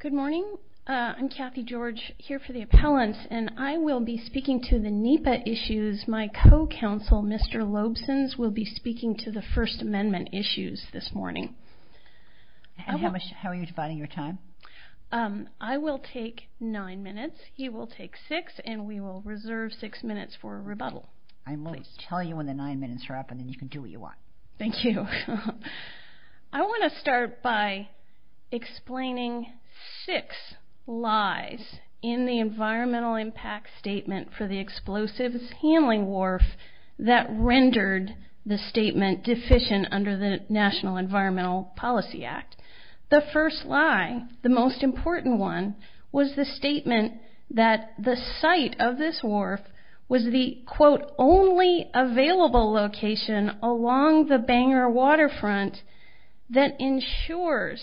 Good morning. I'm Kathy George, here for the appellants, and I will be speaking to the NEPA issues. My co-counsel, Mr. Lobsons, will be speaking to the First Amendment issues this morning. And how are you dividing your time? I will take nine minutes, he will take six, and we will reserve six minutes for rebuttal. I will tell you when the nine minutes are up, and then you can do what you want. Thank you. I want to start by explaining six lies in the environmental impact statement for the explosives handling wharf that rendered the statement deficient under the National Environmental Policy Act. The first lie, the most important one, was the statement that the site of this wharf was the, quote, only available location along the Bangor waterfront that ensures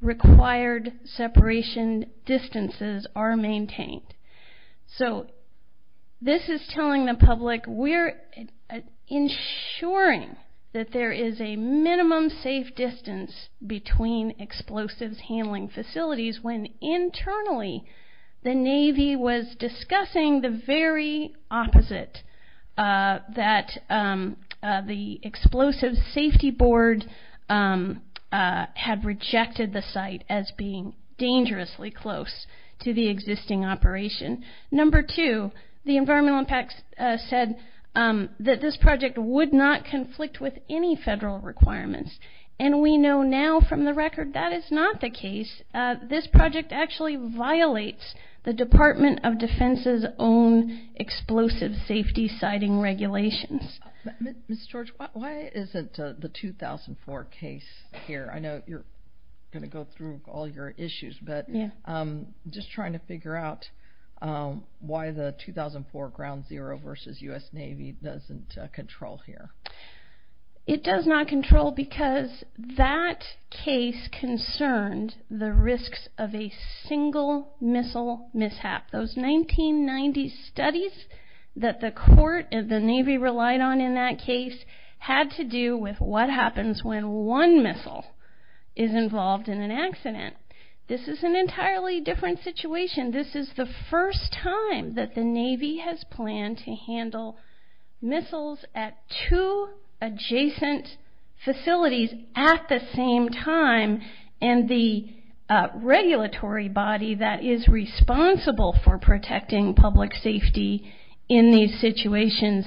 required separation distances are maintained. So this is telling the public we're ensuring that there is a minimum safe distance between explosives handling facilities when internally the Navy was discussing the very opposite, that the Explosives Safety Board had rejected the site as being dangerously close to the existing operation. Number two, the environmental impact said that this project would not conflict with any federal requirements, and we know now from the record that is not the case. This project actually violates the Department of Defense's own explosive safety siting regulations. Ms. George, why isn't the 2004 case here? I know you're going to go through all your issues, but I'm just trying to figure out why the 2004 Ground Zero versus U.S. Navy doesn't control here. It does not control because that case concerned the risks of a single missile mishap. Those 1990 studies that the court and the Navy relied on in that case had to do with what happens when one missile is involved in an accident. This is an entirely different situation. This is the first time that the Navy has planned to handle missiles at two adjacent facilities at the same time, and the regulatory body that is responsible for protecting public safety in these situations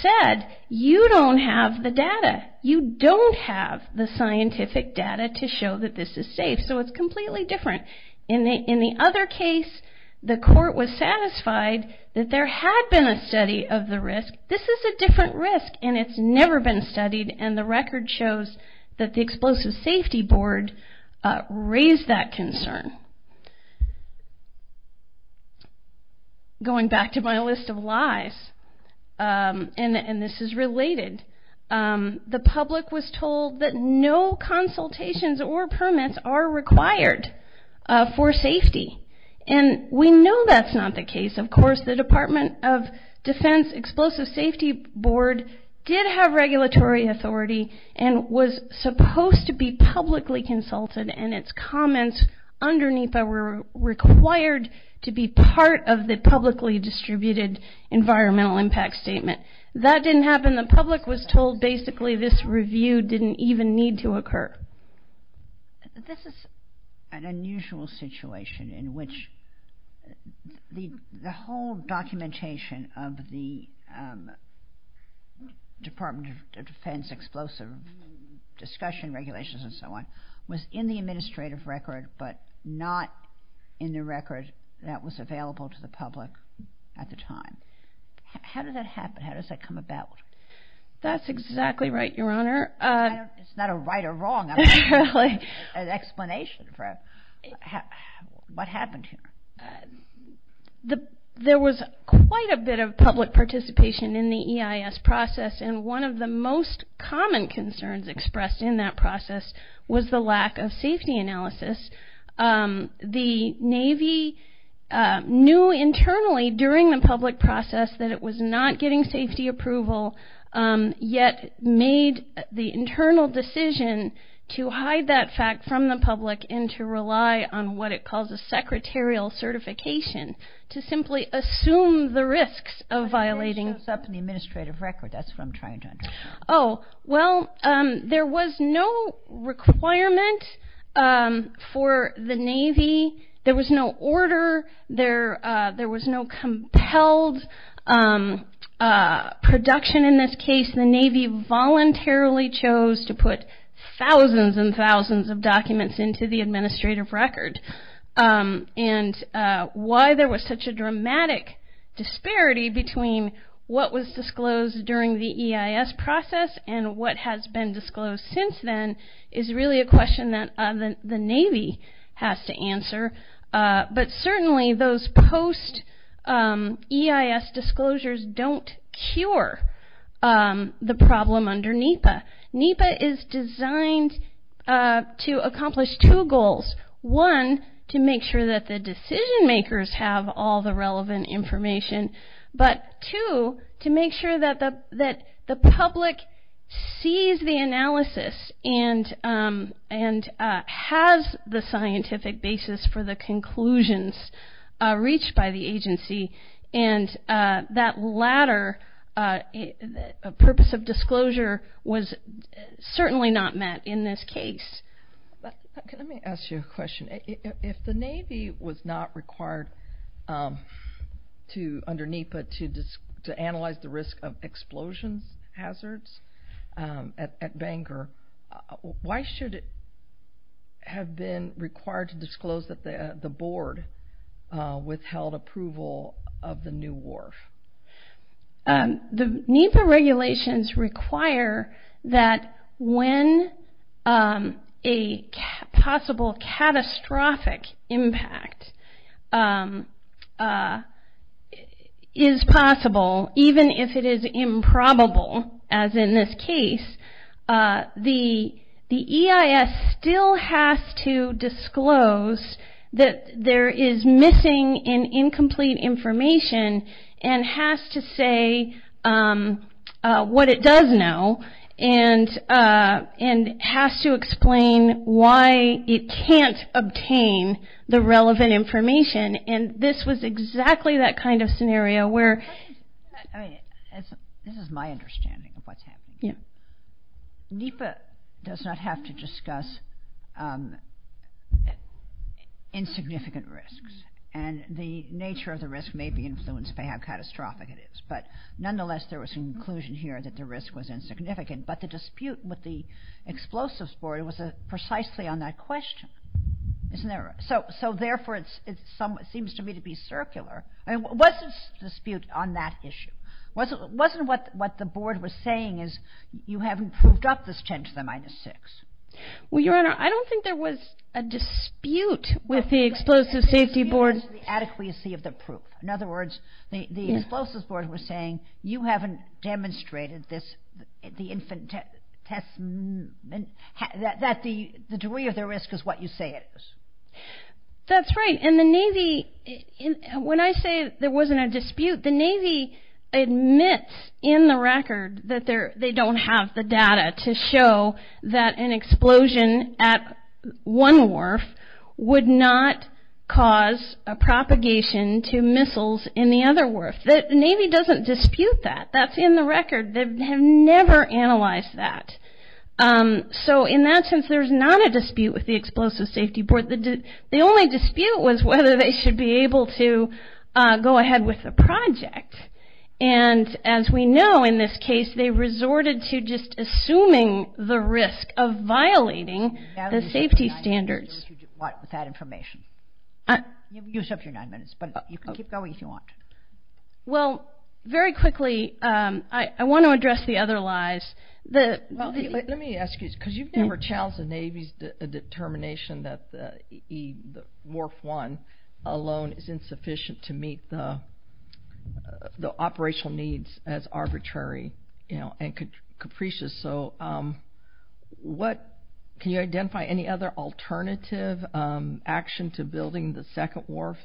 said, you don't have the data. You don't have the scientific data to show that this is safe, so it's completely different. In the other case, the court was satisfied that there had been a study of the risk. This is a different risk, and it's never been studied, and the record shows that the Explosives Safety Board raised that concern. Going back to my list of lies, and this is related, the public was told that no consultations or permits are required for safety, and we know that's not the case. Of course, the Department of Defense Explosives Safety Board did have regulatory authority and was supposed to be publicly consulted, and its comments underneath that were required to be part of the publicly distributed environmental impact statement. That didn't happen. The public was told basically this review didn't even need to occur. This is an unusual situation in which the whole documentation of the Department of Defense explosive discussion regulations and so on was in the administrative record but not in the record that was available to the public at the time. How did that happen? How does that come about? That's exactly right, Your Honor. It's not a right or wrong explanation. What happened here? There was quite a bit of public participation in the EIS process, and one of the most common concerns expressed in that process was the lack of safety analysis. The Navy knew internally during the public process that it was not getting safety approval, yet made the internal decision to hide that fact from the public and to rely on what it calls a secretarial certification to simply assume the risks of violating. It shows up in the administrative record. That's what I'm trying to understand. There was no requirement for the Navy. There was no order. There was no compelled production in this case. The Navy voluntarily chose to put thousands and thousands of documents into the administrative record. Why there was such a dramatic disparity between what was disclosed during the EIS process and what has been disclosed since then is really a question that the Navy has to answer, but certainly those post-EIS disclosures don't cure the problem under NEPA. NEPA is designed to accomplish two goals. One, to make sure that the decision-makers have all the relevant information, but two, to make sure that the public sees the analysis and has the scientific basis for the conclusions reached by the agency, and that latter purpose of disclosure was certainly not met in this case. Let me ask you a question. If the Navy was not required under NEPA to analyze the risk of explosions hazards at Bangor, why should it have been required to disclose that the board withheld approval of the new wharf? The NEPA regulations require that when a possible catastrophic impact is possible, even if it is improbable as in this case, the EIS still has to disclose that there is missing and incomplete information and has to say what it does know and has to explain why it can't obtain the relevant information, and this was exactly that kind of scenario where... The nature of the risk may be influenced by how catastrophic it is, but nonetheless there was some conclusion here that the risk was insignificant, but the dispute with the Explosives Board was precisely on that question, isn't there? So therefore it seems to me to be circular. I mean, what's the dispute on that issue? Wasn't what the board was saying is you haven't proved up this 10 to the minus 6? Well, Your Honor, I don't think there was a dispute with the Explosives Safety Board. The dispute was the adequacy of the proof. In other words, the Explosives Board was saying you haven't demonstrated the degree of the risk is what you say it is. That's right, and the Navy... When I say there wasn't a dispute, the Navy admits in the record that they don't have the data to show that an explosion at one wharf would not cause a propagation to missiles in the other wharf. The Navy doesn't dispute that. That's in the record. They have never analyzed that. So in that sense, there's not a dispute with the Explosives Safety Board. The only dispute was whether they should be able to go ahead with the project. And as we know, in this case, they resorted to just assuming the risk of violating the safety standards. What was that information? You still have your nine minutes, but you can keep going if you want. Well, very quickly, I want to address the other lies. Let me ask you, because you've never challenged the Navy's determination that the wharf one alone is insufficient to meet the operational needs as arbitrary and capricious. Can you identify any other alternative action to building the second wharf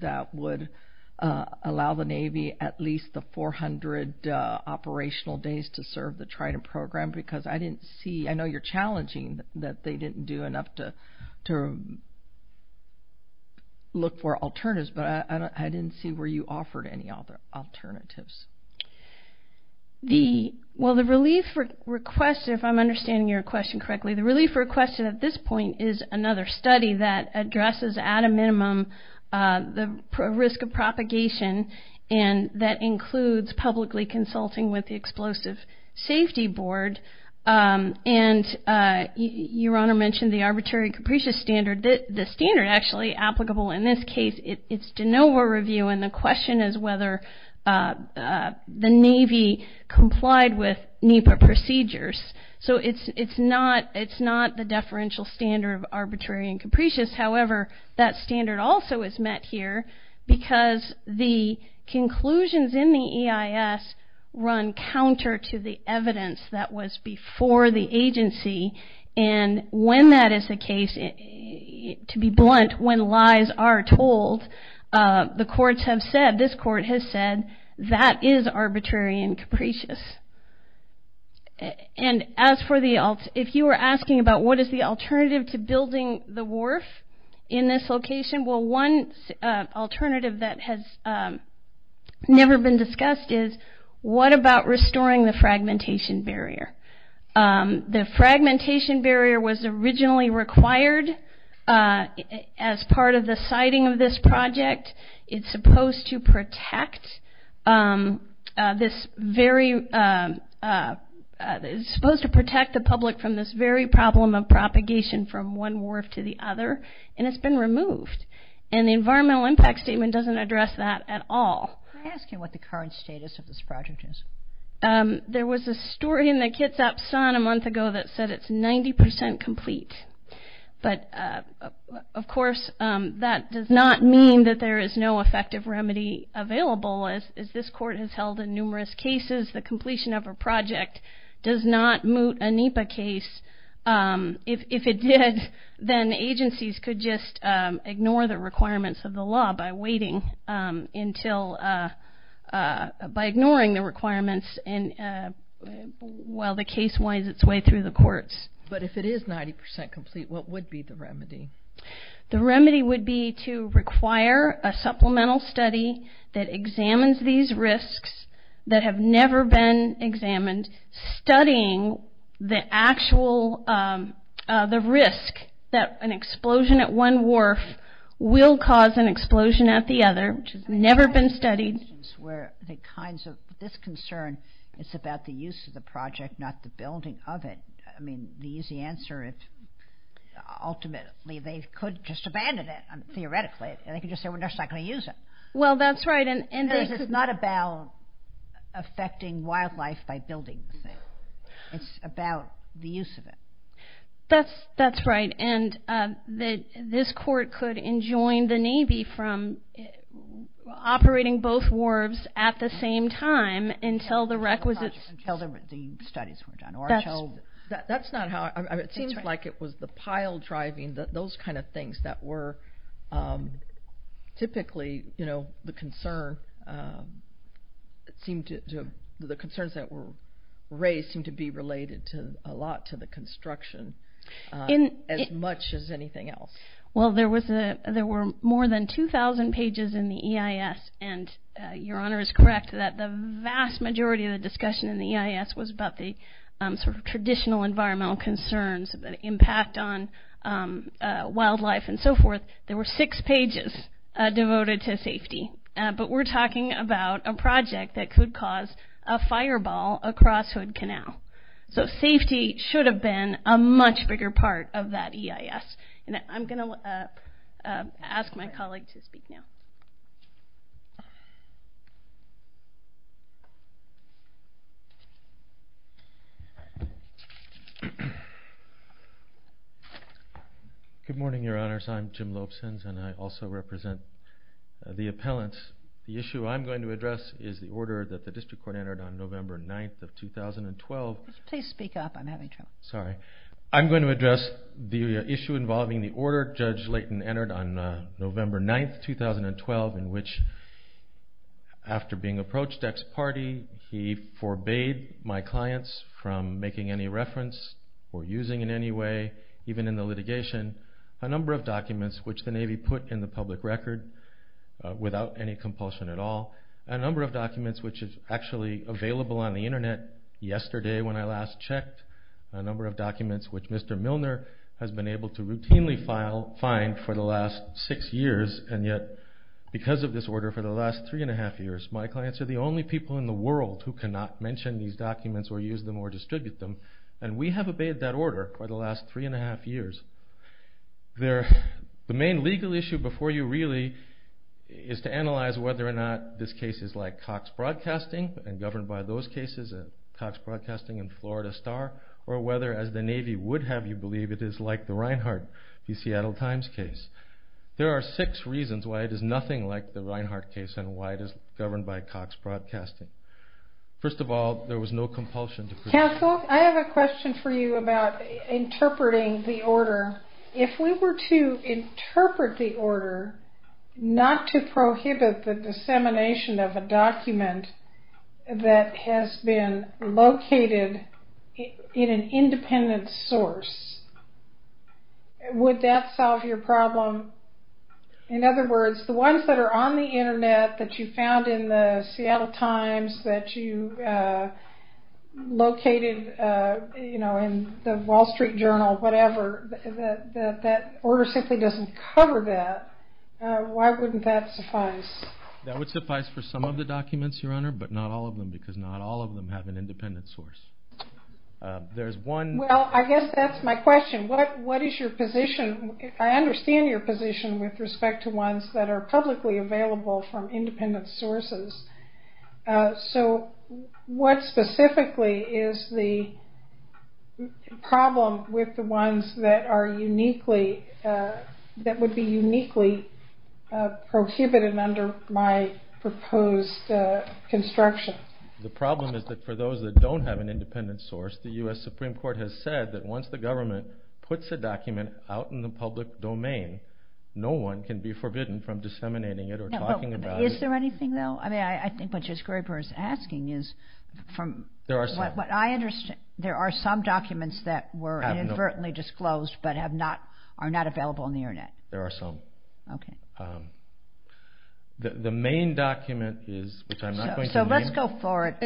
that would allow the Navy at least the 400 operational days to serve the Trident Program? Because I didn't see... I know you're challenging that they didn't do enough to look for alternatives, but I didn't see where you offered any alternatives. Well, the relief request, if I'm understanding your question correctly, the relief request at this point is another study that addresses at a minimum the risk of propagation, and that includes publicly consulting with the Explosive Safety Board. And Your Honor mentioned the arbitrary and capricious standard. The standard actually applicable in this case, it's to no more review. And the question is whether the Navy complied with NEPA procedures. So it's not the deferential standard of arbitrary and capricious. However, that standard also is met here because the conclusions in the EIS run counter to the evidence that was before the agency. And when that is the case, to be blunt, when lies are told, the courts have said, this court has said, that is arbitrary and capricious. And as for the... If you were asking about what is the alternative to building the wharf in this location, well, one alternative that has never been discussed is what about restoring the fragmentation barrier? The fragmentation barrier was originally required as part of the siting of this project. It's supposed to protect this very... It's supposed to protect the public from this very problem of propagation from one wharf to the other, and it's been removed. And the environmental impact statement doesn't address that at all. Can I ask you what the current status of this project is? There was a story in the Kitsap Sun a month ago that said it's 90% complete. But, of course, that does not mean that there is no effective remedy available. As this court has held in numerous cases, the completion of a project does not moot a NEPA case. If it did, then agencies could just ignore the requirements of the law by waiting until... by ignoring the requirements while the case winds its way through the courts. But if it is 90% complete, what would be the remedy? The remedy would be to require a supplemental study that examines these risks that have never been examined, studying the actual... the risk that an explosion at one wharf will cause an explosion at the other, which has never been studied. Where the kinds of...this concern is about the use of the project, not the building of it. I mean, the easy answer is ultimately they could just abandon it, theoretically. They could just say, we're not going to use it. Well, that's right. Because it's not about affecting wildlife by building the thing. It's about the use of it. That's right. And this court could enjoin the Navy from operating both wharves at the same time until the requisite... Until the studies were done, or until... That's not how... It seems like it was the pile driving, those kind of things that were typically, you know, the concern seemed to... The concerns that were raised seemed to be related a lot to the construction as much as anything else. Well, there were more than 2,000 pages in the EIS. And Your Honor is correct that the vast majority of the discussion in the EIS was about the sort of traditional environmental concerns, the impact on wildlife and so forth. There were six pages devoted to safety. But we're talking about a project that could cause a fireball across Hood Canal. So safety should have been a much bigger part of that EIS. And I'm going to ask my colleague to speak now. Good morning, Your Honors. I'm Jim Lobsons, and I also represent the appellants. The issue I'm going to address is the order that the district court entered on November 9th of 2012. Please speak up. I'm having trouble. Sorry. I'm going to address the issue involving the order Judge Layton entered on November 9th, 2012, in which after being approached ex parte, he forbade my clients from making any reference or using in any way, even in the litigation, a number of documents which the Navy put in the public record without any compulsion at all, a number of documents which is actually available on the Internet yesterday when I last checked, a number of documents which Mr. Milner has been able to routinely find for the last six years, and yet because of this order for the last three and a half years, my clients are the only people in the world who cannot mention these documents or use them or distribute them, and we have obeyed that order for the last three and a half years. The main legal issue before you really is to analyze whether or not this case is like Cox Broadcasting and governed by those cases, Cox Broadcasting and Florida Star, or whether, as the Navy would have you believe, it is like the Reinhardt v. Seattle Times case. There are six reasons why it is nothing like the Reinhardt case and why it is governed by Cox Broadcasting. First of all, there was no compulsion. Counsel, I have a question for you about interpreting the order. If we were to interpret the order not to prohibit the dissemination of a document that has been located in an independent source, would that solve your problem? In other words, the ones that are on the Internet that you found in the Seattle Times that you located in the Wall Street Journal, whatever, that order simply doesn't cover that. Why wouldn't that suffice? That would suffice for some of the documents, Your Honor, but not all of them because not all of them have an independent source. Well, I guess that's my question. What is your position? I understand your position with respect to ones that are publicly available from independent sources. So what specifically is the problem with the ones that would be uniquely prohibited under my proposed construction? The problem is that for those that don't have an independent source, the U.S. Supreme Court has said that once the government puts a document out in the public domain, no one can be forbidden from disseminating it or talking about it. Is there anything, though? I think what Judge Graber is asking is from what I understand, there are some documents that were inadvertently disclosed but are not available on the Internet. There are some. Okay. The main document is, which I'm not going to name. So let's go for it.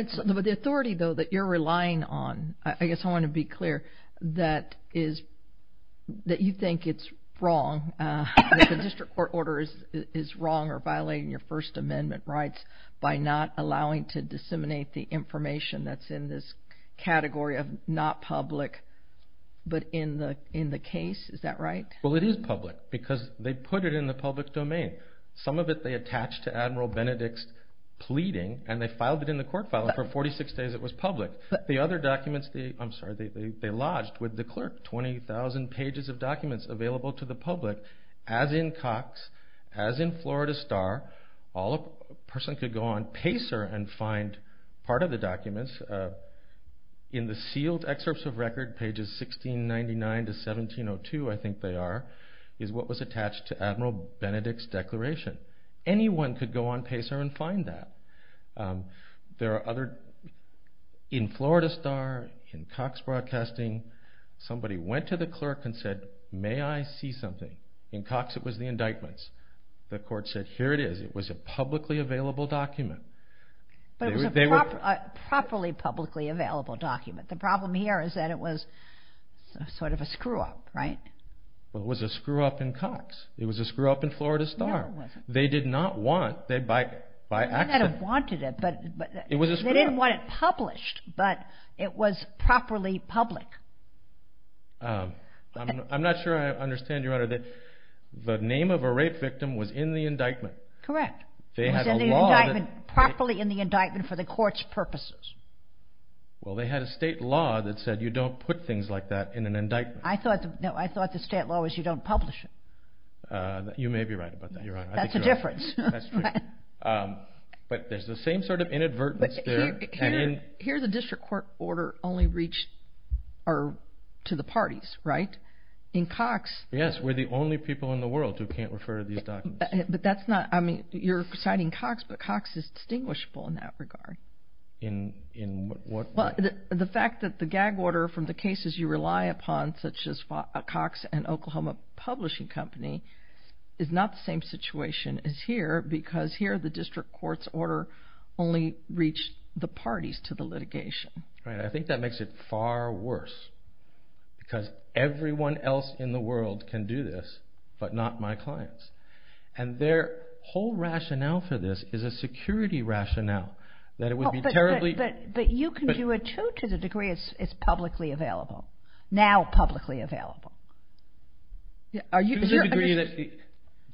The authority, though, that you're relying on, I guess I want to be clear, that you think it's wrong, that the district court order is wrong or violating your First Amendment rights by not allowing to disseminate the information that's in this category of not public but in the case. Is that right? Well, it is public because they put it in the public domain. Some of it they attached to Admiral Benedict's pleading, and they filed it in the court file, and for 46 days it was public. The other documents they lodged with the clerk, 20,000 pages of documents available to the public, as in Cox, as in Florida Star. A person could go on Pacer and find part of the documents. In the sealed excerpts of record, pages 1699 to 1702, I think they are, is what was attached to Admiral Benedict's declaration. Anyone could go on Pacer and find that. There are other, in Florida Star, in Cox Broadcasting, somebody went to the clerk and said, may I see something? In Cox it was the indictments. The court said, here it is. It was a publicly available document. But it was a properly publicly available document. The problem here is that it was sort of a screw-up, right? Well, it was a screw-up in Cox. It was a screw-up in Florida Star. They did not want it by accident. They might have wanted it, but they didn't want it published, but it was properly public. I'm not sure I understand, Your Honor, that the name of a rape victim was in the indictment. Correct. It was in the indictment, properly in the indictment for the court's purposes. Well, they had a state law that said you don't put things like that in an indictment. I thought the state law was you don't publish it. You may be right about that, Your Honor. That's a difference. That's true. But there's the same sort of inadvertence there. Here the district court order only reached to the parties, right? In Cox. Yes, we're the only people in the world who can't refer to these documents. You're citing Cox, but Cox is distinguishable in that regard. In what way? The fact that the gag order from the cases you rely upon, such as Cox and Oklahoma Publishing Company, is not the same situation as here because here the district court's order only reached the parties to the litigation. I think that makes it far worse because everyone else in the world can do this but not my clients. And their whole rationale for this is a security rationale that it would be terribly But you can do it too to the degree it's publicly available, now publicly available. To the degree that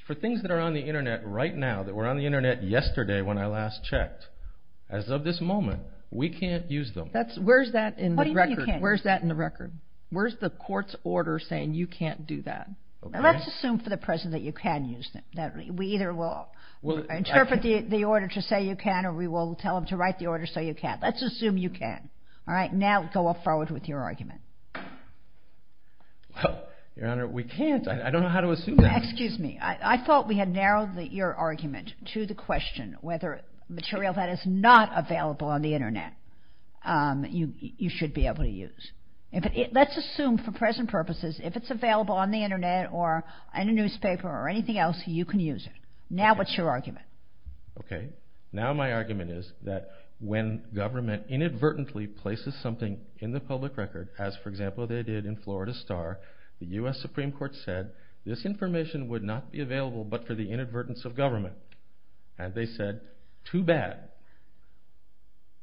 for things that are on the Internet right now, that were on the Internet yesterday when I last checked, as of this moment we can't use them. Where's that in the record? Where's the court's order saying you can't do that? Let's assume for the present that you can use them. We either will interpret the order to say you can or we will tell them to write the order so you can. Let's assume you can. Now go forward with your argument. Well, Your Honor, we can't. I don't know how to assume that. Excuse me. I thought we had narrowed your argument to the question whether material that is not available on the Internet you should be able to use. Let's assume for present purposes if it's available on the Internet or in a newspaper or anything else you can use it. Now what's your argument? Okay. Now my argument is that when government inadvertently places something in the public record, as for example they did in Florida Star, the U.S. Supreme Court said this information would not be available but for the inadvertence of government. And they said, too bad.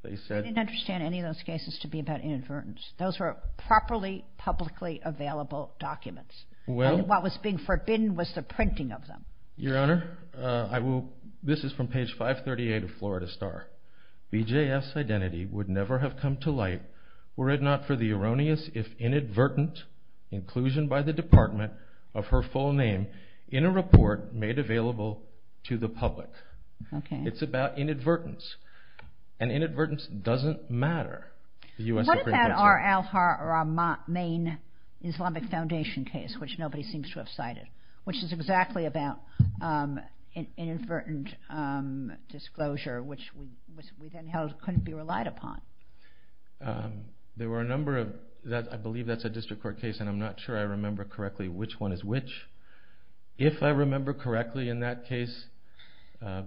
They didn't understand any of those cases to be about inadvertence. Those were properly publicly available documents. What was being forbidden was the printing of them. Your Honor, this is from page 538 of Florida Star. BJF's identity would never have come to light were it not for the erroneous if inadvertent inclusion by the Department of her full name in a report made available to the public. Okay. It's about inadvertence. And inadvertence doesn't matter. What about our main Islamic Foundation case which nobody seems to have cited which is exactly about inadvertent disclosure which we then held couldn't be relied upon? There were a number of, I believe that's a district court case and I'm not sure I remember correctly which one is which. If I remember correctly in that case,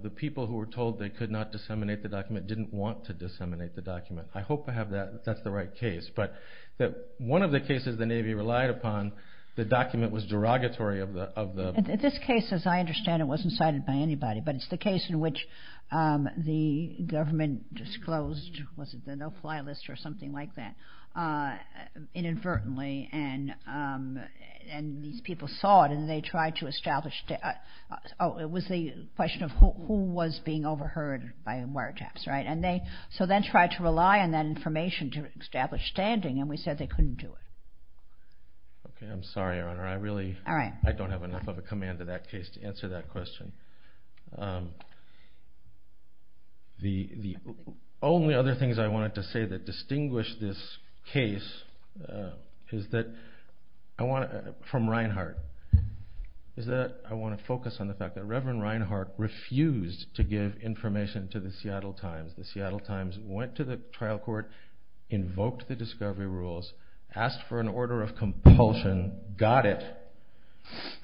the people who were told they could not disseminate the document didn't want to disseminate the document. I hope I have that. That's the right case. But one of the cases the Navy relied upon, the document was derogatory of the- This case, as I understand it, wasn't cited by anybody but it's the case in which the government disclosed, was it the no-fly list or something like that, inadvertently and these people saw it and they tried to establish- Oh, it was the question of who was being overheard by wiretaps, right? So they tried to rely on that information to establish standing and we said they couldn't do it. Okay. I'm sorry, Your Honor. I really don't have enough of a command to that case to answer that question. The only other things I wanted to say that distinguish this case from Reinhardt is that I want to focus on the fact that Reverend Reinhardt refused to give information to the Seattle Times. The Seattle Times went to the trial court, invoked the discovery rules, asked for an order of compulsion, got it.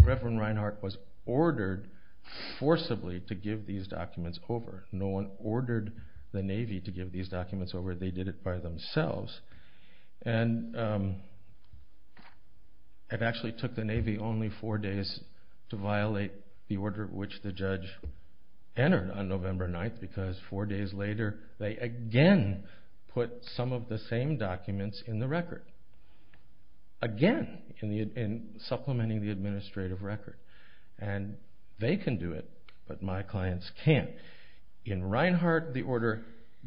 Reverend Reinhardt was ordered forcibly to give these documents over. No one ordered the Navy to give these documents over. They did it by themselves. And it actually took the Navy only four days to violate the order which the judge entered on November 9th because four days later they again put some of the same documents in the record. Again, in supplementing the administrative record. And they can do it, but my clients can't. In Reinhardt, the order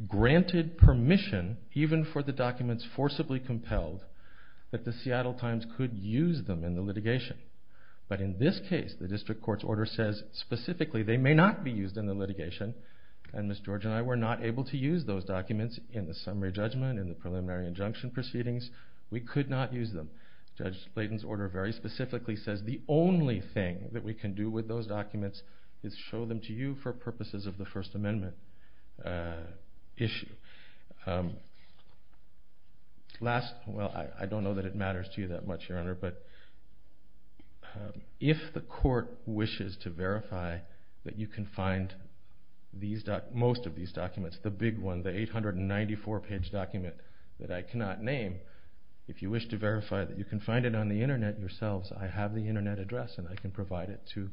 granted permission, even for the documents forcibly compelled, that the Seattle Times could use them in the litigation. But in this case, the district court's order says specifically they may not be used in the litigation. And Ms. George and I were not able to use those documents in the summary judgment, in the preliminary injunction proceedings. We could not use them. Judge Blayden's order very specifically says the only thing that we can do with those documents is show them to you for purposes of the First Amendment issue. I don't know that it matters to you that much, Your Honor, but if the court wishes to verify that you can find most of these documents, the big one, the 894-page document that I cannot name, if you wish to verify that you can find it on the Internet yourselves, I have the Internet address and I can provide it to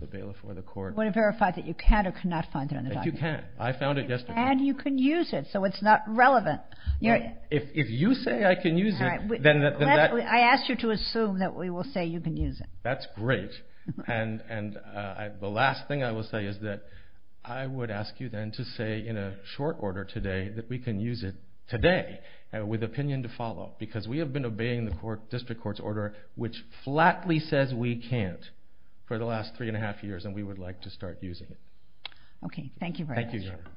the bailiff or the court. You want to verify that you can or cannot find it on the document? You can. I found it yesterday. And you can use it, so it's not relevant. If you say I can use it, then that... I ask you to assume that we will say you can use it. That's great. And the last thing I will say is that I would ask you, then, to say in a short order today that we can use it today, with opinion to follow, because we have been obeying the district court's order which flatly says we can't for the last three and a half years, and we would like to start using it. Okay. Thank you very much. Thank you, Your Honor.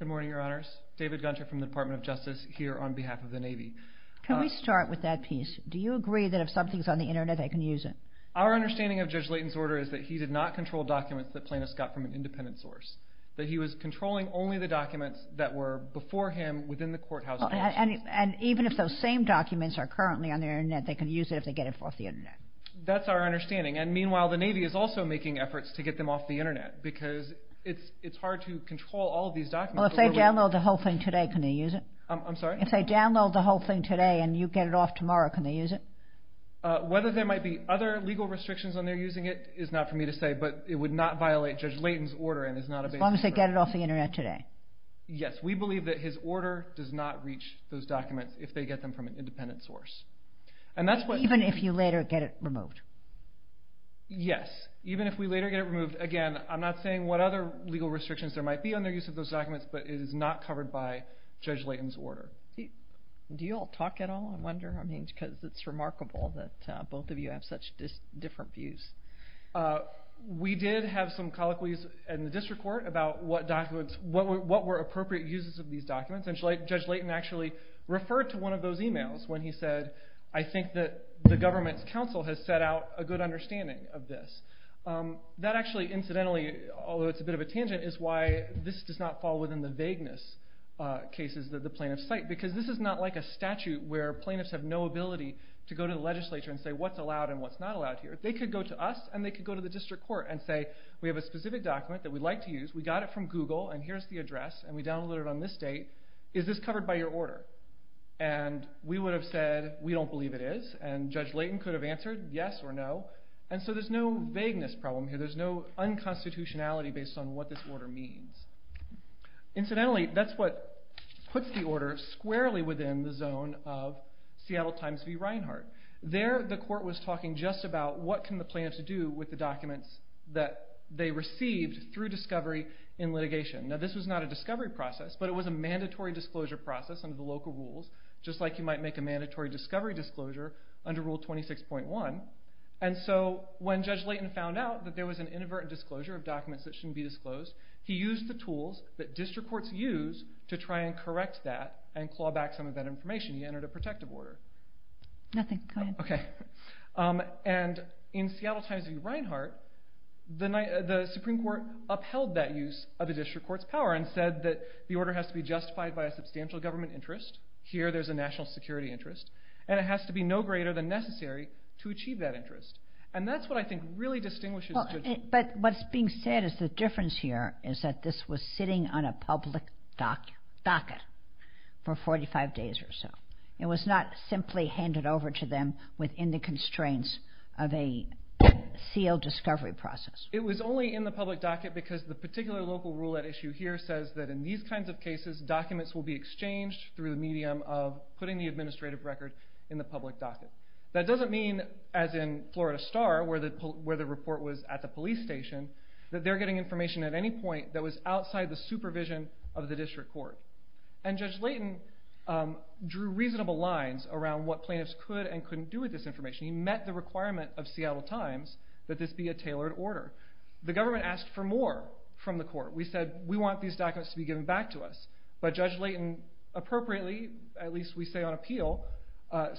Good morning, Your Honors. David Gunter from the Department of Justice here on behalf of the Navy. Can we start with that piece? Do you agree that if something's on the Internet, I can use it? Our understanding of Judge Leighton's order is that he did not control documents that plaintiffs got from an independent source, that he was controlling only the documents that were before him within the courthouse. And even if those same documents are currently on the Internet, they can use it if they get it off the Internet? That's our understanding. And meanwhile, the Navy is also making efforts to get them off the Internet because it's hard to control all of these documents. Well, if they download the whole thing today, can they use it? I'm sorry? If they download the whole thing today and you get it off tomorrow, can they use it? Whether there might be other legal restrictions on their using it is not for me to say, but it would not violate Judge Leighton's order and is not a basis for it. As long as they get it off the Internet today? Yes. We believe that his order does not reach those documents if they get them from an independent source. Even if you later get it removed? Yes. Even if we later get it removed, again, I'm not saying what other legal restrictions there might be on their use of those documents, but it is not covered by Judge Leighton's order. Do you all talk at all? I wonder, because it's remarkable that both of you have such different views. We did have some colloquies in the district court about what were appropriate uses of these documents, and Judge Leighton actually referred to one of those emails when he said, I think that the government's counsel has set out a good understanding of this. That actually, incidentally, although it's a bit of a tangent, is why this does not fall within the vagueness cases that the plaintiffs cite because this is not like a statute where plaintiffs have no ability to go to the legislature and say what's allowed and what's not allowed here. They could go to us and they could go to the district court and say we have a specific document that we'd like to use, we got it from Google, and here's the address, and we downloaded it on this date. Is this covered by your order? And we would have said we don't believe it is, and Judge Leighton could have answered yes or no, and so there's no vagueness problem here. There's no unconstitutionality based on what this order means. Incidentally, that's what puts the order squarely within the zone of Seattle Times v. Reinhart. There the court was talking just about what can the plaintiffs do with the documents that they received through discovery in litigation. Now this was not a discovery process, but it was a mandatory disclosure process under the local rules, just like you might make a mandatory discovery disclosure under Rule 26.1, and so when Judge Leighton found out that there was an inadvertent disclosure of documents that shouldn't be disclosed, he used the tools that district courts use to try and correct that and claw back some of that information. He entered a protective order. Nothing. Go ahead. And in Seattle Times v. Reinhart, the Supreme Court upheld that use of a district court's power and said that the order has to be justified by a substantial government interest. Here there's a national security interest, and it has to be no greater than necessary to achieve that interest, and that's what I think really distinguishes judges. But what's being said is the difference here is that this was sitting on a public docket for 45 days or so. It was not simply handed over to them within the constraints of a sealed discovery process. It was only in the public docket because the particular local rule at issue here says that in these kinds of cases documents will be exchanged through the medium of putting the administrative record in the public docket. That doesn't mean, as in Florida Star, where the report was at the police station, that they're getting information at any point that was outside the supervision of the district court. And Judge Layton drew reasonable lines around what plaintiffs could and couldn't do with this information. He met the requirement of Seattle Times that this be a tailored order. The government asked for more from the court. We said we want these documents to be given back to us, but Judge Layton appropriately, at least we say on appeal,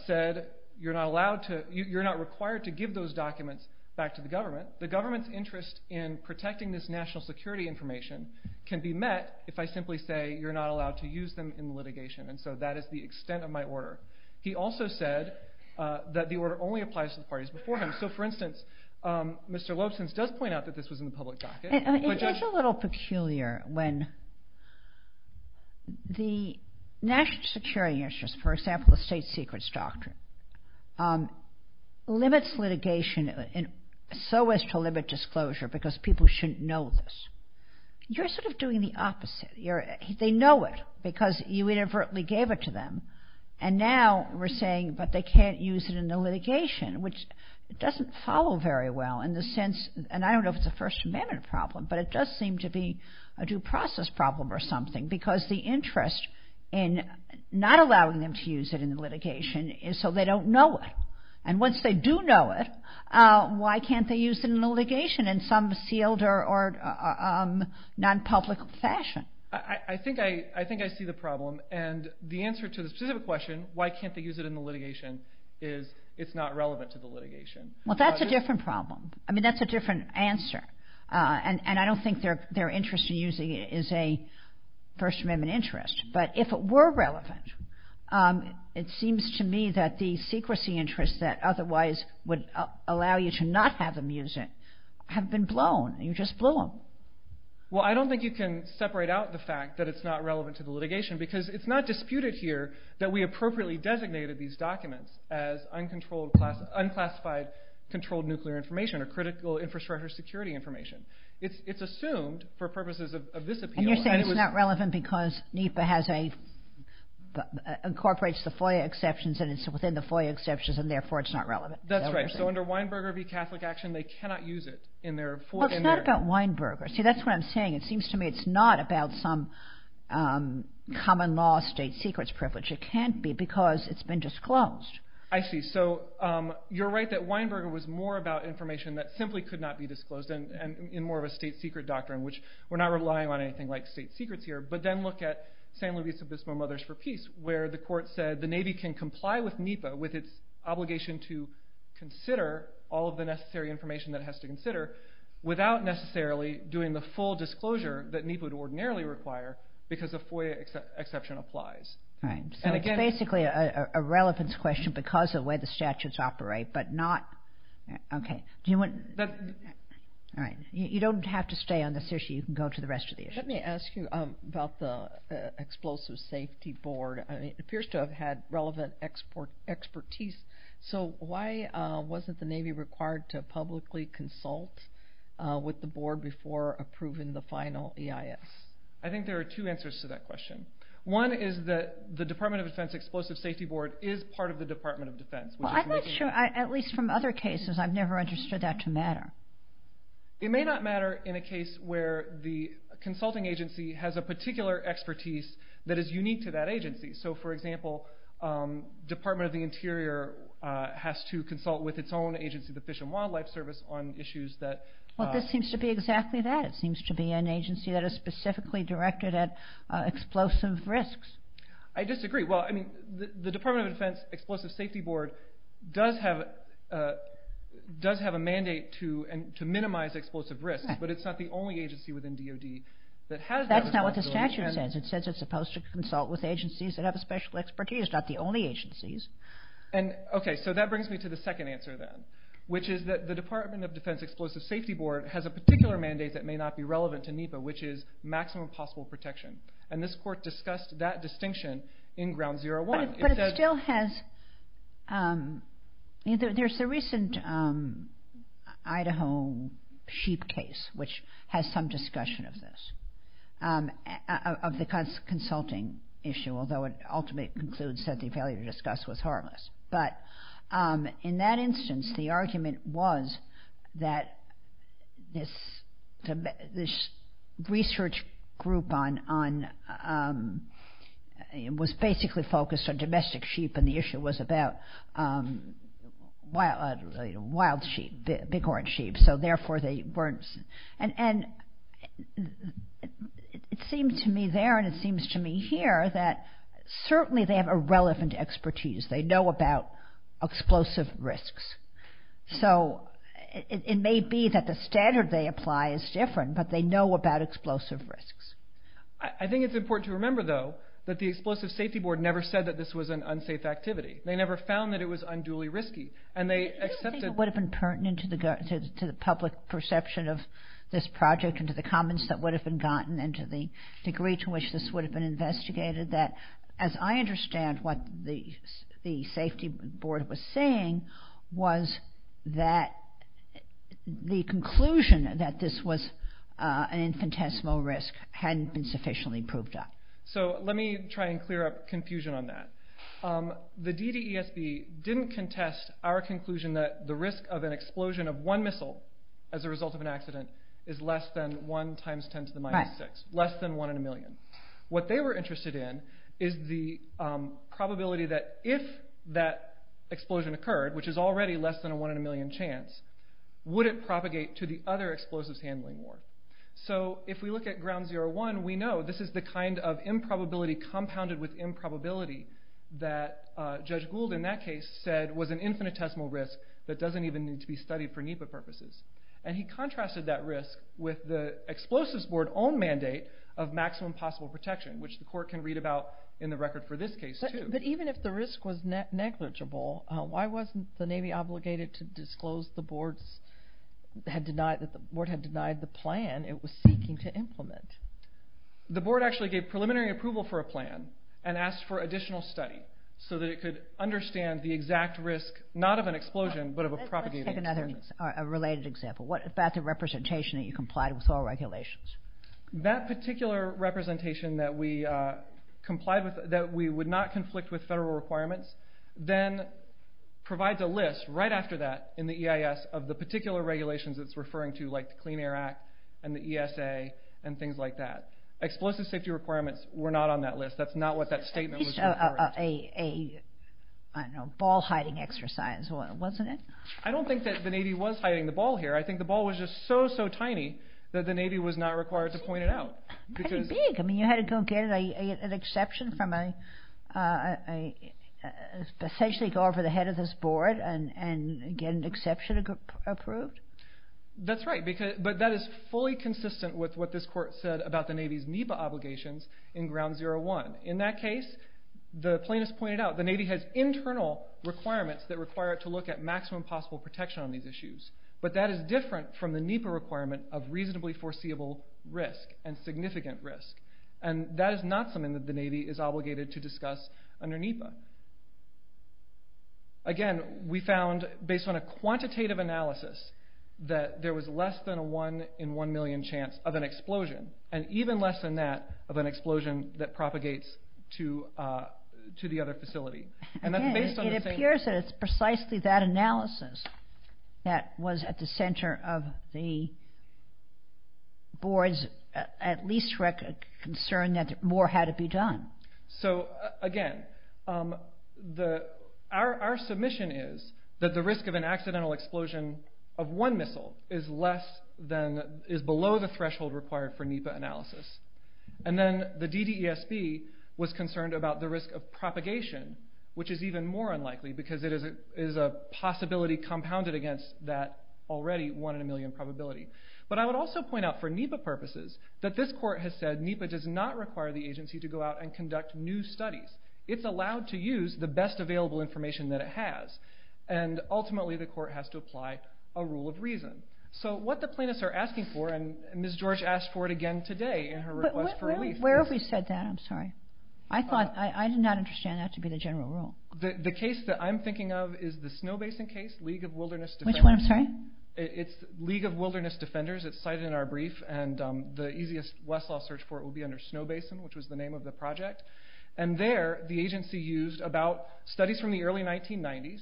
said you're not required to give those documents back to the government. The government's interest in protecting this national security information can be met if I simply say you're not allowed to use them in litigation. And so that is the extent of my order. He also said that the order only applies to the parties before him. So, for instance, Mr. Lobson does point out that this was in the public docket. It is a little peculiar when the national security interests, for example, the State Secrets Doctrine, limits litigation so as to limit disclosure because people shouldn't know this. You're sort of doing the opposite. They know it because you inadvertently gave it to them. And now we're saying, but they can't use it in the litigation, which doesn't follow very well in the sense, and I don't know if it's a First Amendment problem, but it does seem to be a due process problem or something because the interest in not allowing them to use it in the litigation is so they don't know it. And once they do know it, why can't they use it in the litigation in some sealed or non-public fashion? I think I see the problem. And the answer to the specific question, why can't they use it in the litigation, is it's not relevant to the litigation. Well, that's a different problem. I mean, that's a different answer. And I don't think their interest in using it is a First Amendment interest. But if it were relevant, it seems to me that the secrecy interests that otherwise would allow you to not have them use it have been blown. You just blew them. Well, I don't think you can separate out the fact that it's not relevant to the litigation because it's not disputed here that we appropriately designated these documents as unclassified controlled nuclear information or critical infrastructure security information. It's assumed, for purposes of this appeal... And you're saying it's not relevant because NEPA incorporates the FOIA exceptions and it's within the FOIA exceptions and therefore it's not relevant. That's right. So under Weinberger v. Catholic Action, they cannot use it in their... Well, it's not about Weinberger. See, that's what I'm saying. It seems to me it's not about some common law state secrets privilege. It can't be because it's been disclosed. I see. So you're right that Weinberger was more about information that simply could not be disclosed in more of a state secret doctrine, which we're not relying on anything like state secrets here, but then look at San Luis Obispo Mothers for Peace where the court said the Navy can comply with NEPA with its obligation to consider all of the necessary information that it has to consider without necessarily doing the full disclosure that NEPA would ordinarily require because a FOIA exception applies. Right. So it's basically a relevance question because of the way the statutes operate, but not... Okay. Do you want... All right. You don't have to stay on this issue. You can go to the rest of the issues. Let me ask you about the Explosive Safety Board. It appears to have had relevant expertise. So why wasn't the Navy required to publicly consult with the board before approving the final EIS? I think there are two answers to that question. One is that the Department of Defense Explosive Safety Board is part of the Department of Defense. I'm not sure, at least from other cases, I've never understood that to matter. It may not matter in a case where the consulting agency has a particular expertise that is unique to that agency. So, for example, Department of the Interior has to consult with its own agency, the Fish and Wildlife Service, on issues that... Well, this seems to be exactly that. It seems to be an agency that is specifically directed at explosive risks. I disagree. Well, I mean, the Department of Defense Explosive Safety Board does have a mandate to minimize explosive risks, but it's not the only agency within DOD that has that responsibility. That's not what the statute says. It says it's supposed to consult with agencies that have a special expertise, not the only agencies. Okay, so that brings me to the second answer then, which is that the Department of Defense Explosive Safety Board has a particular mandate that may not be relevant to NEPA, which is maximum possible protection. And this court discussed that distinction in Ground Zero One. But it still has... There's the recent Idaho sheep case, which has some discussion of this, of the consulting issue, although it ultimately concludes that the failure to discuss was harmless. But in that instance, the argument was that this research group was basically focused on domestic sheep, and the issue was about wild sheep, bighorn sheep. So therefore, they weren't... And it seemed to me there, and it seems to me here, that certainly they have a relevant expertise. They know about explosive risks. So it may be that the standard they apply is different, but they know about explosive risks. I think it's important to remember, though, that the Explosive Safety Board never said that this was an unsafe activity. They never found that it was unduly risky, and they accepted... I don't think it would have been pertinent to the public perception of this project and to the comments that would have been gotten and to the degree to which this would have been investigated that, as I understand what the Safety Board was saying, was that the conclusion that this was an infinitesimal risk hadn't been sufficiently proved up. So let me try and clear up confusion on that. The DDESB didn't contest our conclusion that the risk of an explosion of one missile as a result of an accident is less than 1 times 10 to the minus 6, less than 1 in a million. What they were interested in is the probability that if that explosion occurred, which is already less than a 1 in a million chance, would it propagate to the other explosives handling war. So if we look at Ground Zero One, we know this is the kind of improbability compounded with improbability that Judge Gould in that case said was an infinitesimal risk that doesn't even need to be studied for NEPA purposes. And he contrasted that risk with the Explosives Board's own mandate of maximum possible protection, which the Court can read about in the record for this case, too. But even if the risk was negligible, why wasn't the Navy obligated to disclose that the Board had denied the plan it was seeking to implement? The Board actually gave preliminary approval for a plan and asked for additional study so that it could understand the exact risk, not of an explosion, but of a propagating explosion. Let's take another related example. What about the representation that you complied with all regulations? That particular representation that we would not conflict with federal requirements then provides a list right after that in the EIS of the particular regulations it's referring to, like the Clean Air Act and the ESA and things like that. Explosive safety requirements were not on that list. That's not what that statement was referring to. It's a ball-hiding exercise, wasn't it? I don't think that the Navy was hiding the ball here. I think the ball was just so, so tiny that the Navy was not required to point it out. Pretty big. You had to go get an exception from a... essentially go over the head of this Board and get an exception approved? That's right. But that is fully consistent with what this Court said about the Navy's NEPA obligations in Ground Zero One. In that case, the plaintiffs pointed out the Navy has internal requirements that require it to look at maximum possible protection on these issues. But that is different from the NEPA requirement of reasonably foreseeable risk and significant risk. And that is not something that the Navy is obligated to discuss under NEPA. Again, we found, based on a quantitative analysis, that there was less than a one in one million chance of an explosion, and even less than that of an explosion that propagates to the other facility. Again, it appears that it's precisely that analysis that was at the center of the Board's at least concern that more had to be done. Again, our submission is that the risk of an accidental explosion of one missile is below the threshold required for NEPA analysis. And then the DDSB was concerned about the risk of propagation, which is even more unlikely because it is a possibility compounded against that already one in a million probability. But I would also point out for NEPA purposes that this court has said NEPA does not require the agency to go out and conduct new studies. It's allowed to use the best available information that it has. And ultimately, the court has to apply a rule of reason. So what the plaintiffs are asking for, and Ms. George asked for it again today in her request for release. But where have we said that? I'm sorry. I did not understand that to be the general rule. The case that I'm thinking of is the Snow Basin case, League of Wilderness Defenders. Which one, I'm sorry? It's League of Wilderness Defenders. It's cited in our brief. And the easiest Westlaw search for it will be under Snow Basin, which was the name of the project. And there, the agency used about studies from the early 1990s,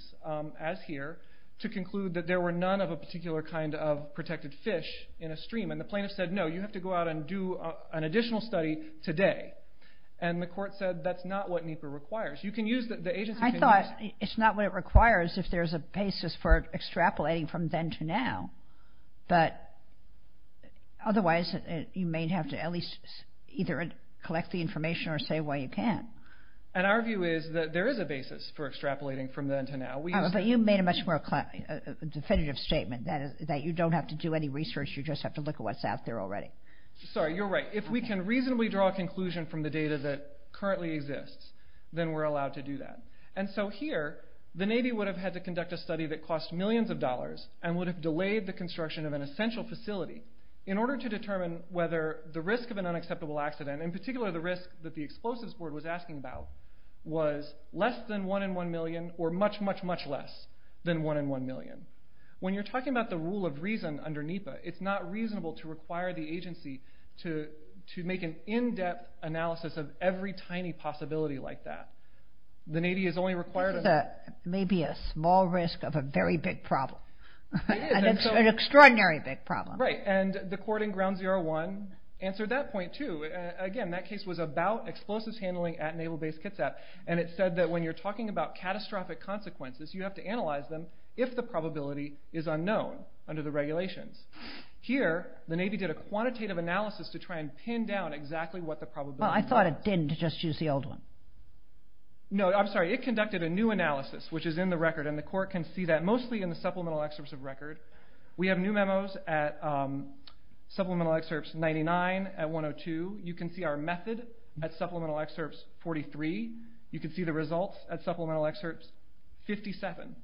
as here, to conclude that there were none of a particular kind of protected fish in a stream. And the plaintiffs said, no, you have to go out and do an additional study today. And the court said that's not what NEPA requires. You can use the agency. I thought it's not what it requires if there's a basis for extrapolating from then to now. But otherwise, you may have to at least either collect the information or say why you can't. And our view is that there is a basis for extrapolating from then to now. But you made a much more definitive statement, that you don't have to do any research, you just have to look at what's out there already. Sorry, you're right. If we can reasonably draw a conclusion from the data that currently exists, then we're allowed to do that. And so here, the Navy would have had to conduct a study that cost millions of dollars and would have delayed the construction of an essential facility in order to determine whether the risk of an unacceptable accident, in particular the risk that the Explosives Board was asking about, was less than one in one million or much, much, much less than one in one million. When you're talking about the rule of reason under NEPA, it's not reasonable to require the agency to make an in-depth analysis of every tiny possibility like that. The Navy is only required... This is maybe a small risk of a very big problem. It is. An extraordinary big problem. Right, and the court in Ground Zero One answered that point too. Again, that case was about explosives handling at Naval Base Kitsap, and it said that when you're talking about catastrophic consequences, you have to analyze them if the probability is unknown under the regulations. Here, the Navy did a quantitative analysis to try and pin down exactly what the probability was. Well, I thought it didn't. Just use the old one. No, I'm sorry. It conducted a new analysis, which is in the record, and the court can see that mostly in the supplemental excerpts of record. We have new memos at Supplemental Excerpts 99 at 102. You can see our method at Supplemental Excerpts 43. You can see the results at Supplemental Excerpts 57.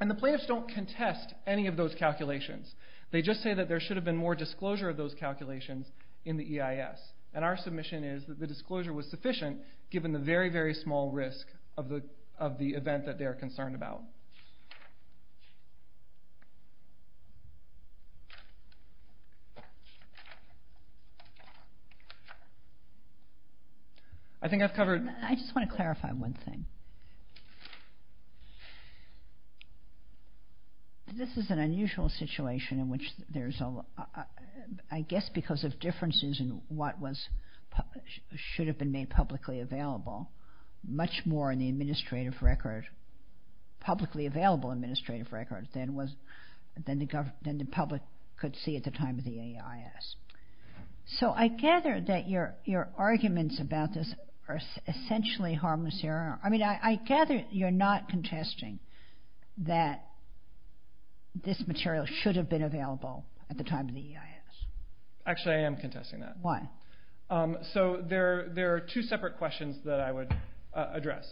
And the plaintiffs don't contest any of those calculations. They just say that there should have been more disclosure of those calculations in the EIS, and our submission is that the disclosure was sufficient given the very, very small risk of the event that they are concerned about. I think I've covered... I just want to clarify one thing. This is an unusual situation in which there's a... I guess because of differences in what should have been made publicly available, much more in the administrative record, publicly available administrative record, than the public could see at the time of the EIS. So I gather that your arguments about this are essentially harmless error. I mean, I gather you're not contesting that this material should have been available at the time of the EIS. Actually, I am contesting that. Why? So there are two separate questions that I would address.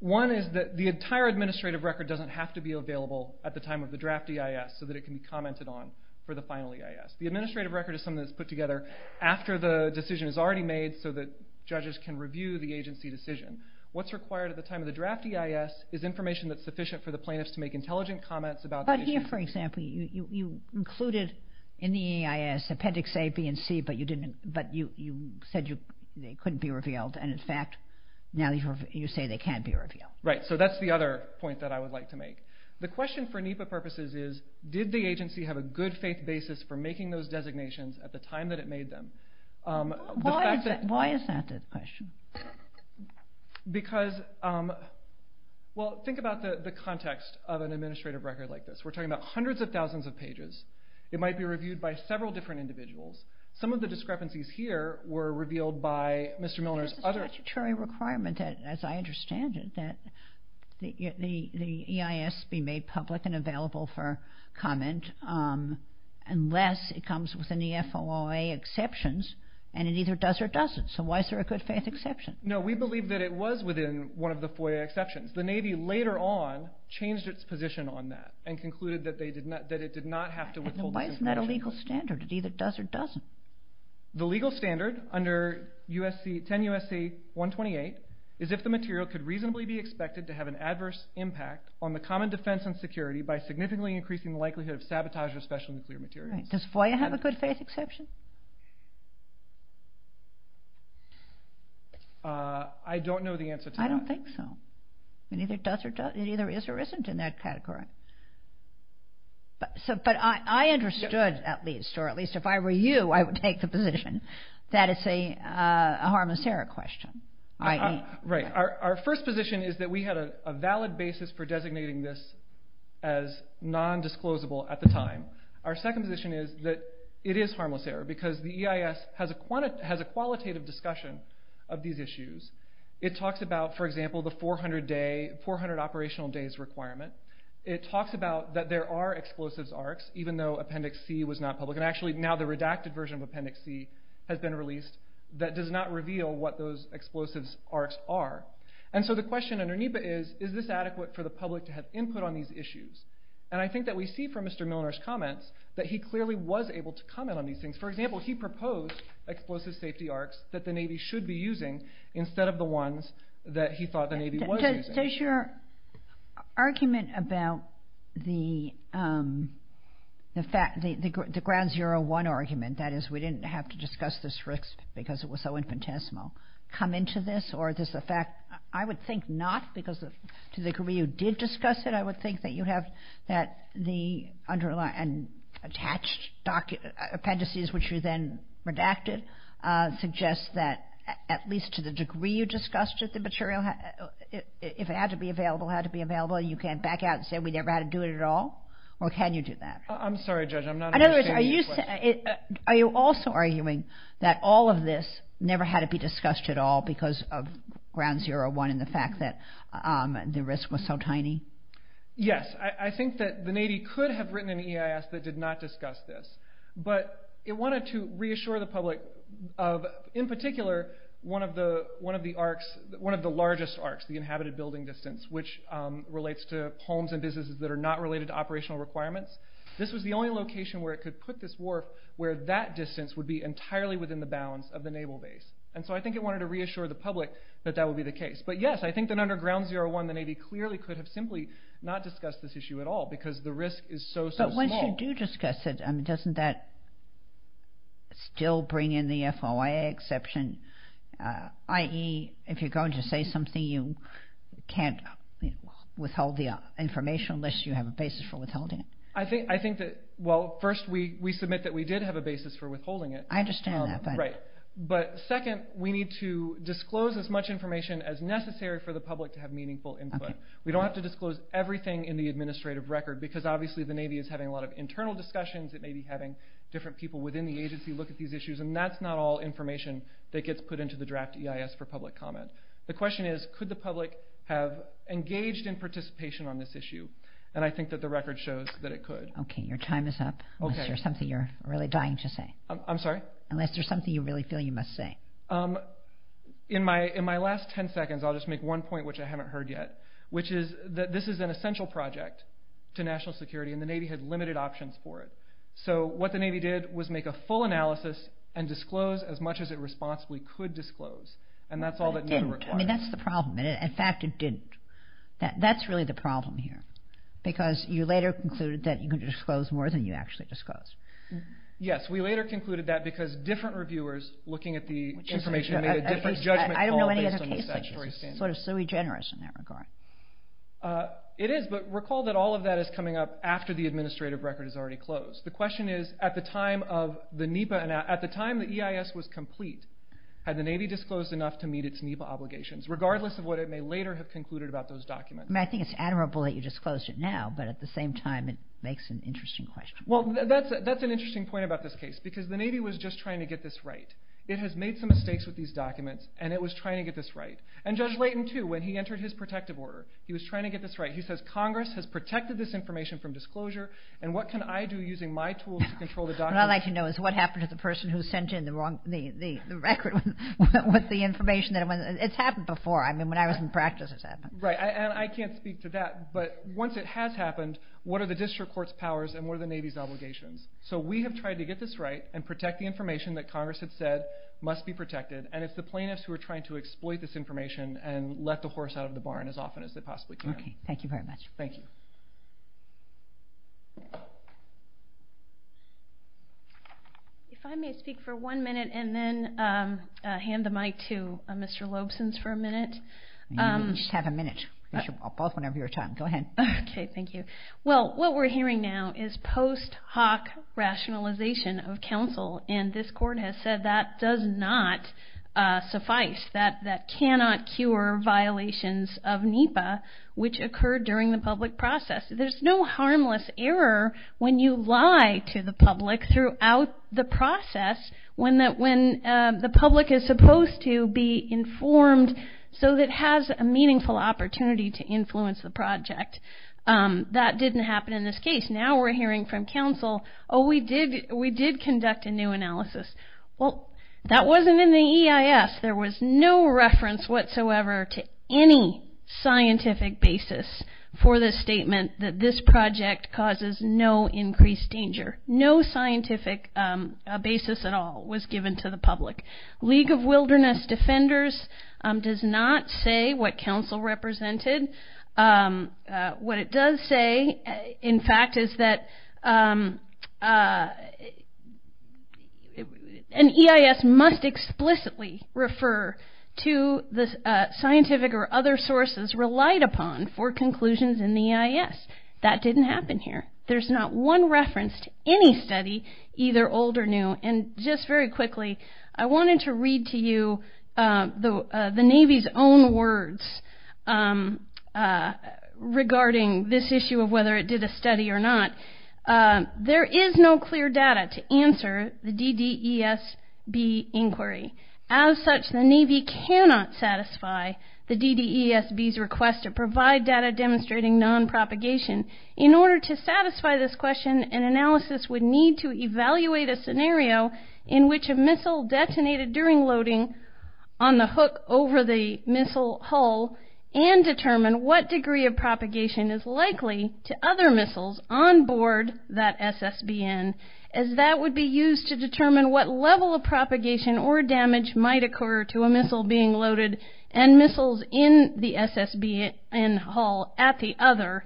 One is that the entire administrative record doesn't have to be available at the time of the draft EIS so that it can be commented on for the final EIS. The administrative record is something that's put together after the decision is already made so that judges can review the agency decision. What's required at the time of the draft EIS is information that's sufficient for the plaintiffs to make intelligent comments about the issue. But here, for example, you included in the EIS Appendix A, B, and C, but you said they couldn't be revealed. And in fact, now you say they can be revealed. Right, so that's the other point that I would like to make. The question for NEPA purposes is, did the agency have a good faith basis for making those designations at the time that it made them? Why is that the question? Because... Well, think about the context of an administrative record like this. We're talking about hundreds of thousands of pages. It might be reviewed by several different individuals. Some of the discrepancies here were revealed by Mr. Milner's other... There's a statutory requirement, as I understand it, that the EIS be made public and available for comment unless it comes within the FOIA exceptions, and it either does or doesn't. So why is there a good faith exception? No, we believe that it was within one of the FOIA exceptions. The Navy later on changed its position on that and concluded that it did not have to withhold... Then why isn't that a legal standard? It either does or doesn't. The legal standard under 10 U.S.C. 128 is if the material could reasonably be expected to have an adverse impact on the common defense and security by significantly increasing the likelihood of sabotage of special nuclear materials. Does FOIA have a good faith exception? I don't know the answer to that. I don't think so. It either does or doesn't. It either is or isn't in that category. But I understood, at least, or at least if I were you, I would take the position that it's a harmiceric question. Right. Our first position is that we had a valid basis for designating this as nondisclosable at the time. Our second position is that it is harmliceric because the EIS has a qualitative discussion of these issues. It talks about, for example, the 400 operational days requirement. It talks about that there are explosives arcs, even though Appendix C was not public. And actually, now the redacted version of Appendix C has been released that does not reveal what those explosives arcs are. And so the question underneath it is, is this adequate for the public to have input on these issues? And I think that we see from Mr. Milner's comments that he clearly was able to comment on these things. For example, he proposed explosive safety arcs that the Navy should be using instead of the ones that he thought the Navy was using. Does your argument about the fact, the Ground Zero One argument, that is, we didn't have to discuss this risk because it was so infinitesimal, come into this? Or does the fact, I would think not, because to the degree you did discuss it, I would think that you have that the underlying and attached appendices, which you then redacted, suggest that at least to the degree you discussed it, the material, if it had to be available, had to be available, you can back out and say we never had to do it at all? Or can you do that? I'm sorry, Judge, I'm not understanding your question. Are you also arguing that all of this never had to be discussed at all because of Ground Zero One and the fact that the risk was so tiny? Yes, I think that the Navy could have written an EIS that did not discuss this, but it wanted to reassure the public of, in particular, one of the largest arcs, the inhabited building distance, which relates to homes and businesses that are not related to operational requirements. This was the only location where it could put this wharf where that distance would be entirely within the bounds of the naval base. And so I think it wanted to reassure the public that that would be the case. But yes, I think that under Ground Zero One the Navy clearly could have simply not discussed this issue at all because the risk is so, so small. But once you do discuss it, doesn't that still bring in the FOIA exception, i.e. if you're going to say something you can't withhold the information unless you have a basis for withholding it? I think that, well, first we submit that we did have a basis for withholding it. I understand that. Right. But second, we need to disclose as much information as necessary for the public to have meaningful input. We don't have to disclose everything in the administrative record because obviously the Navy is having a lot of internal discussions. It may be having different people within the agency look at these issues, and that's not all information that gets put into the draft EIS for public comment. The question is, could the public have engaged in participation on this issue? And I think that the record shows that it could. Okay, your time is up. Unless there's something you're really dying to say. I'm sorry? Unless there's something you really feel you must say. In my last 10 seconds, I'll just make one point which I haven't heard yet, which is that this is an essential project to national security, and the Navy had limited options for it. So what the Navy did was make a full analysis and disclose as much as it responsibly could disclose, and that's all that needed to be required. But it didn't. I mean, that's the problem. In fact, it didn't. That's really the problem here because you later concluded that you could disclose more than you actually disclosed. Yes, we later concluded that because different reviewers looking at the information made a different judgment call based on the statutory standards. I don't know any other case like this. It's sort of sui generis in that regard. It is, but recall that all of that is coming up after the administrative record is already closed. The question is, at the time the EIS was complete, had the Navy disclosed enough to meet its NEPA obligations, regardless of what it may later have concluded about those documents? I think it's admirable that you disclosed it now, but at the same time, it makes an interesting question. Well, that's an interesting point about this case because the Navy was just trying to get this right. It has made some mistakes with these documents, and it was trying to get this right. And Judge Leighton, too, when he entered his protective order, he was trying to get this right. He says, Congress has protected this information from disclosure, and what can I do using my tools to control the documents? What I'd like to know is what happened to the person who sent in the record with the information? It's happened before. I mean, when I was in practice, it's happened. Right, and I can't speak to that, but once it has happened, what are the district court's powers and what are the Navy's obligations? So we have tried to get this right and protect the information that Congress had said must be protected, and it's the plaintiffs who are trying to exploit this information and let the horse out of the barn as often as they possibly can. Okay, thank you very much. Thank you. If I may speak for one minute and then hand the mic to Mr. Lobson's for a minute. You may just have a minute. You should both whenever you're time. Go ahead. Okay, thank you. Well, what we're hearing now is post hoc rationalization of counsel, and this court has said that does not suffice, that that cannot cure violations of NEPA, which occurred during the public process. There's no harmless error when you lie to the public throughout the process when the public is supposed to be informed so that it has a meaningful opportunity to influence the project. That didn't happen in this case. Now we're hearing from counsel, oh, we did conduct a new analysis. Well, that wasn't in the EIS. There was no reference whatsoever to any scientific basis for this statement that this project causes no increased danger. No scientific basis at all was given to the public. League of Wilderness Defenders does not say what counsel represented. What it does say, in fact, is that an EIS must explicitly refer to the scientific or other sources relied upon for conclusions in the EIS. That didn't happen here. There's not one reference to any study, either old or new. And just very quickly, I wanted to read to you the Navy's own words regarding this issue of whether it did a study or not. There is no clear data to answer the DDESB inquiry. As such, the Navy cannot satisfy the DDESB's request to provide data demonstrating nonpropagation. In order to satisfy this question, an analysis would need to evaluate a scenario in which a missile detonated during loading on the hook over the missile hull and determine what degree of propagation is likely to other missiles on board that SSBN as that would be used to determine what level of propagation or damage might occur to a missile being loaded and missiles in the SSBN hull at the other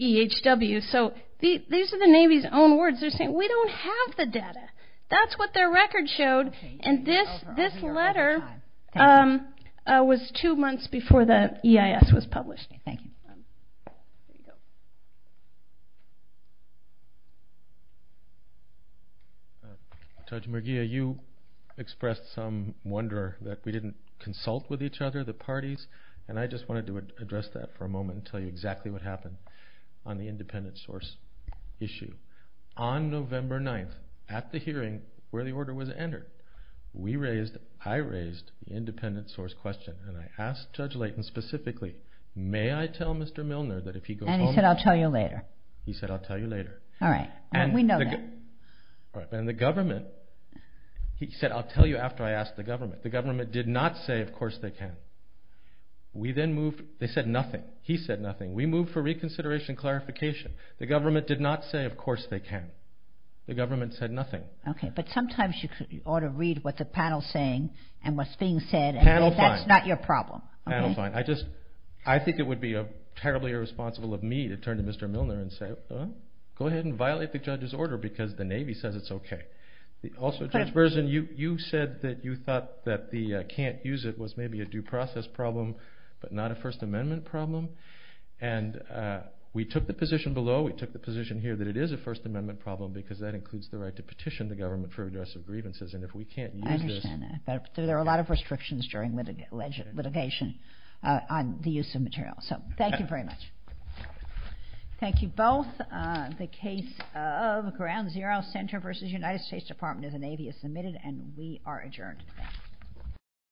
EHW. So these are the Navy's own words. They're saying, we don't have the data. That's what their record showed. And this letter was two months before the EIS was published. Thank you. Dr. Murgia, you expressed some wonder that we didn't consult with each other, the parties, and I just wanted to address that for a moment and tell you exactly what happened on the independent source issue. On November 9th, at the hearing where the order was entered, I raised the independent source question and I asked Judge Layton specifically, may I tell Mr. Milner that if he goes home... And he said, I'll tell you later. He said, I'll tell you later. All right, we know that. And the government, he said, I'll tell you after I ask the government. The government did not say, of course they can. We then moved. They said nothing. He said nothing. We moved for reconsideration and clarification. The government did not say, of course they can. The government said nothing. Okay, but sometimes you ought to read what the panel is saying and what's being said. Panel fine. That's not your problem. Panel fine. I think it would be terribly irresponsible of me to turn to Mr. Milner and say, go ahead and violate the judge's order because the Navy says it's okay. Also, Judge Berzin, you said that you thought that the can't use it was maybe a due process problem but not a First Amendment problem. And we took the position below. We took the position here that it is a First Amendment problem because that includes the right to petition the government for redress of grievances. And if we can't use this... I understand that. There are a lot of restrictions during litigation on the use of material. So thank you very much. Thank you both. The case of Ground Zero Center v. United States Department of the Navy is submitted, and we are adjourned.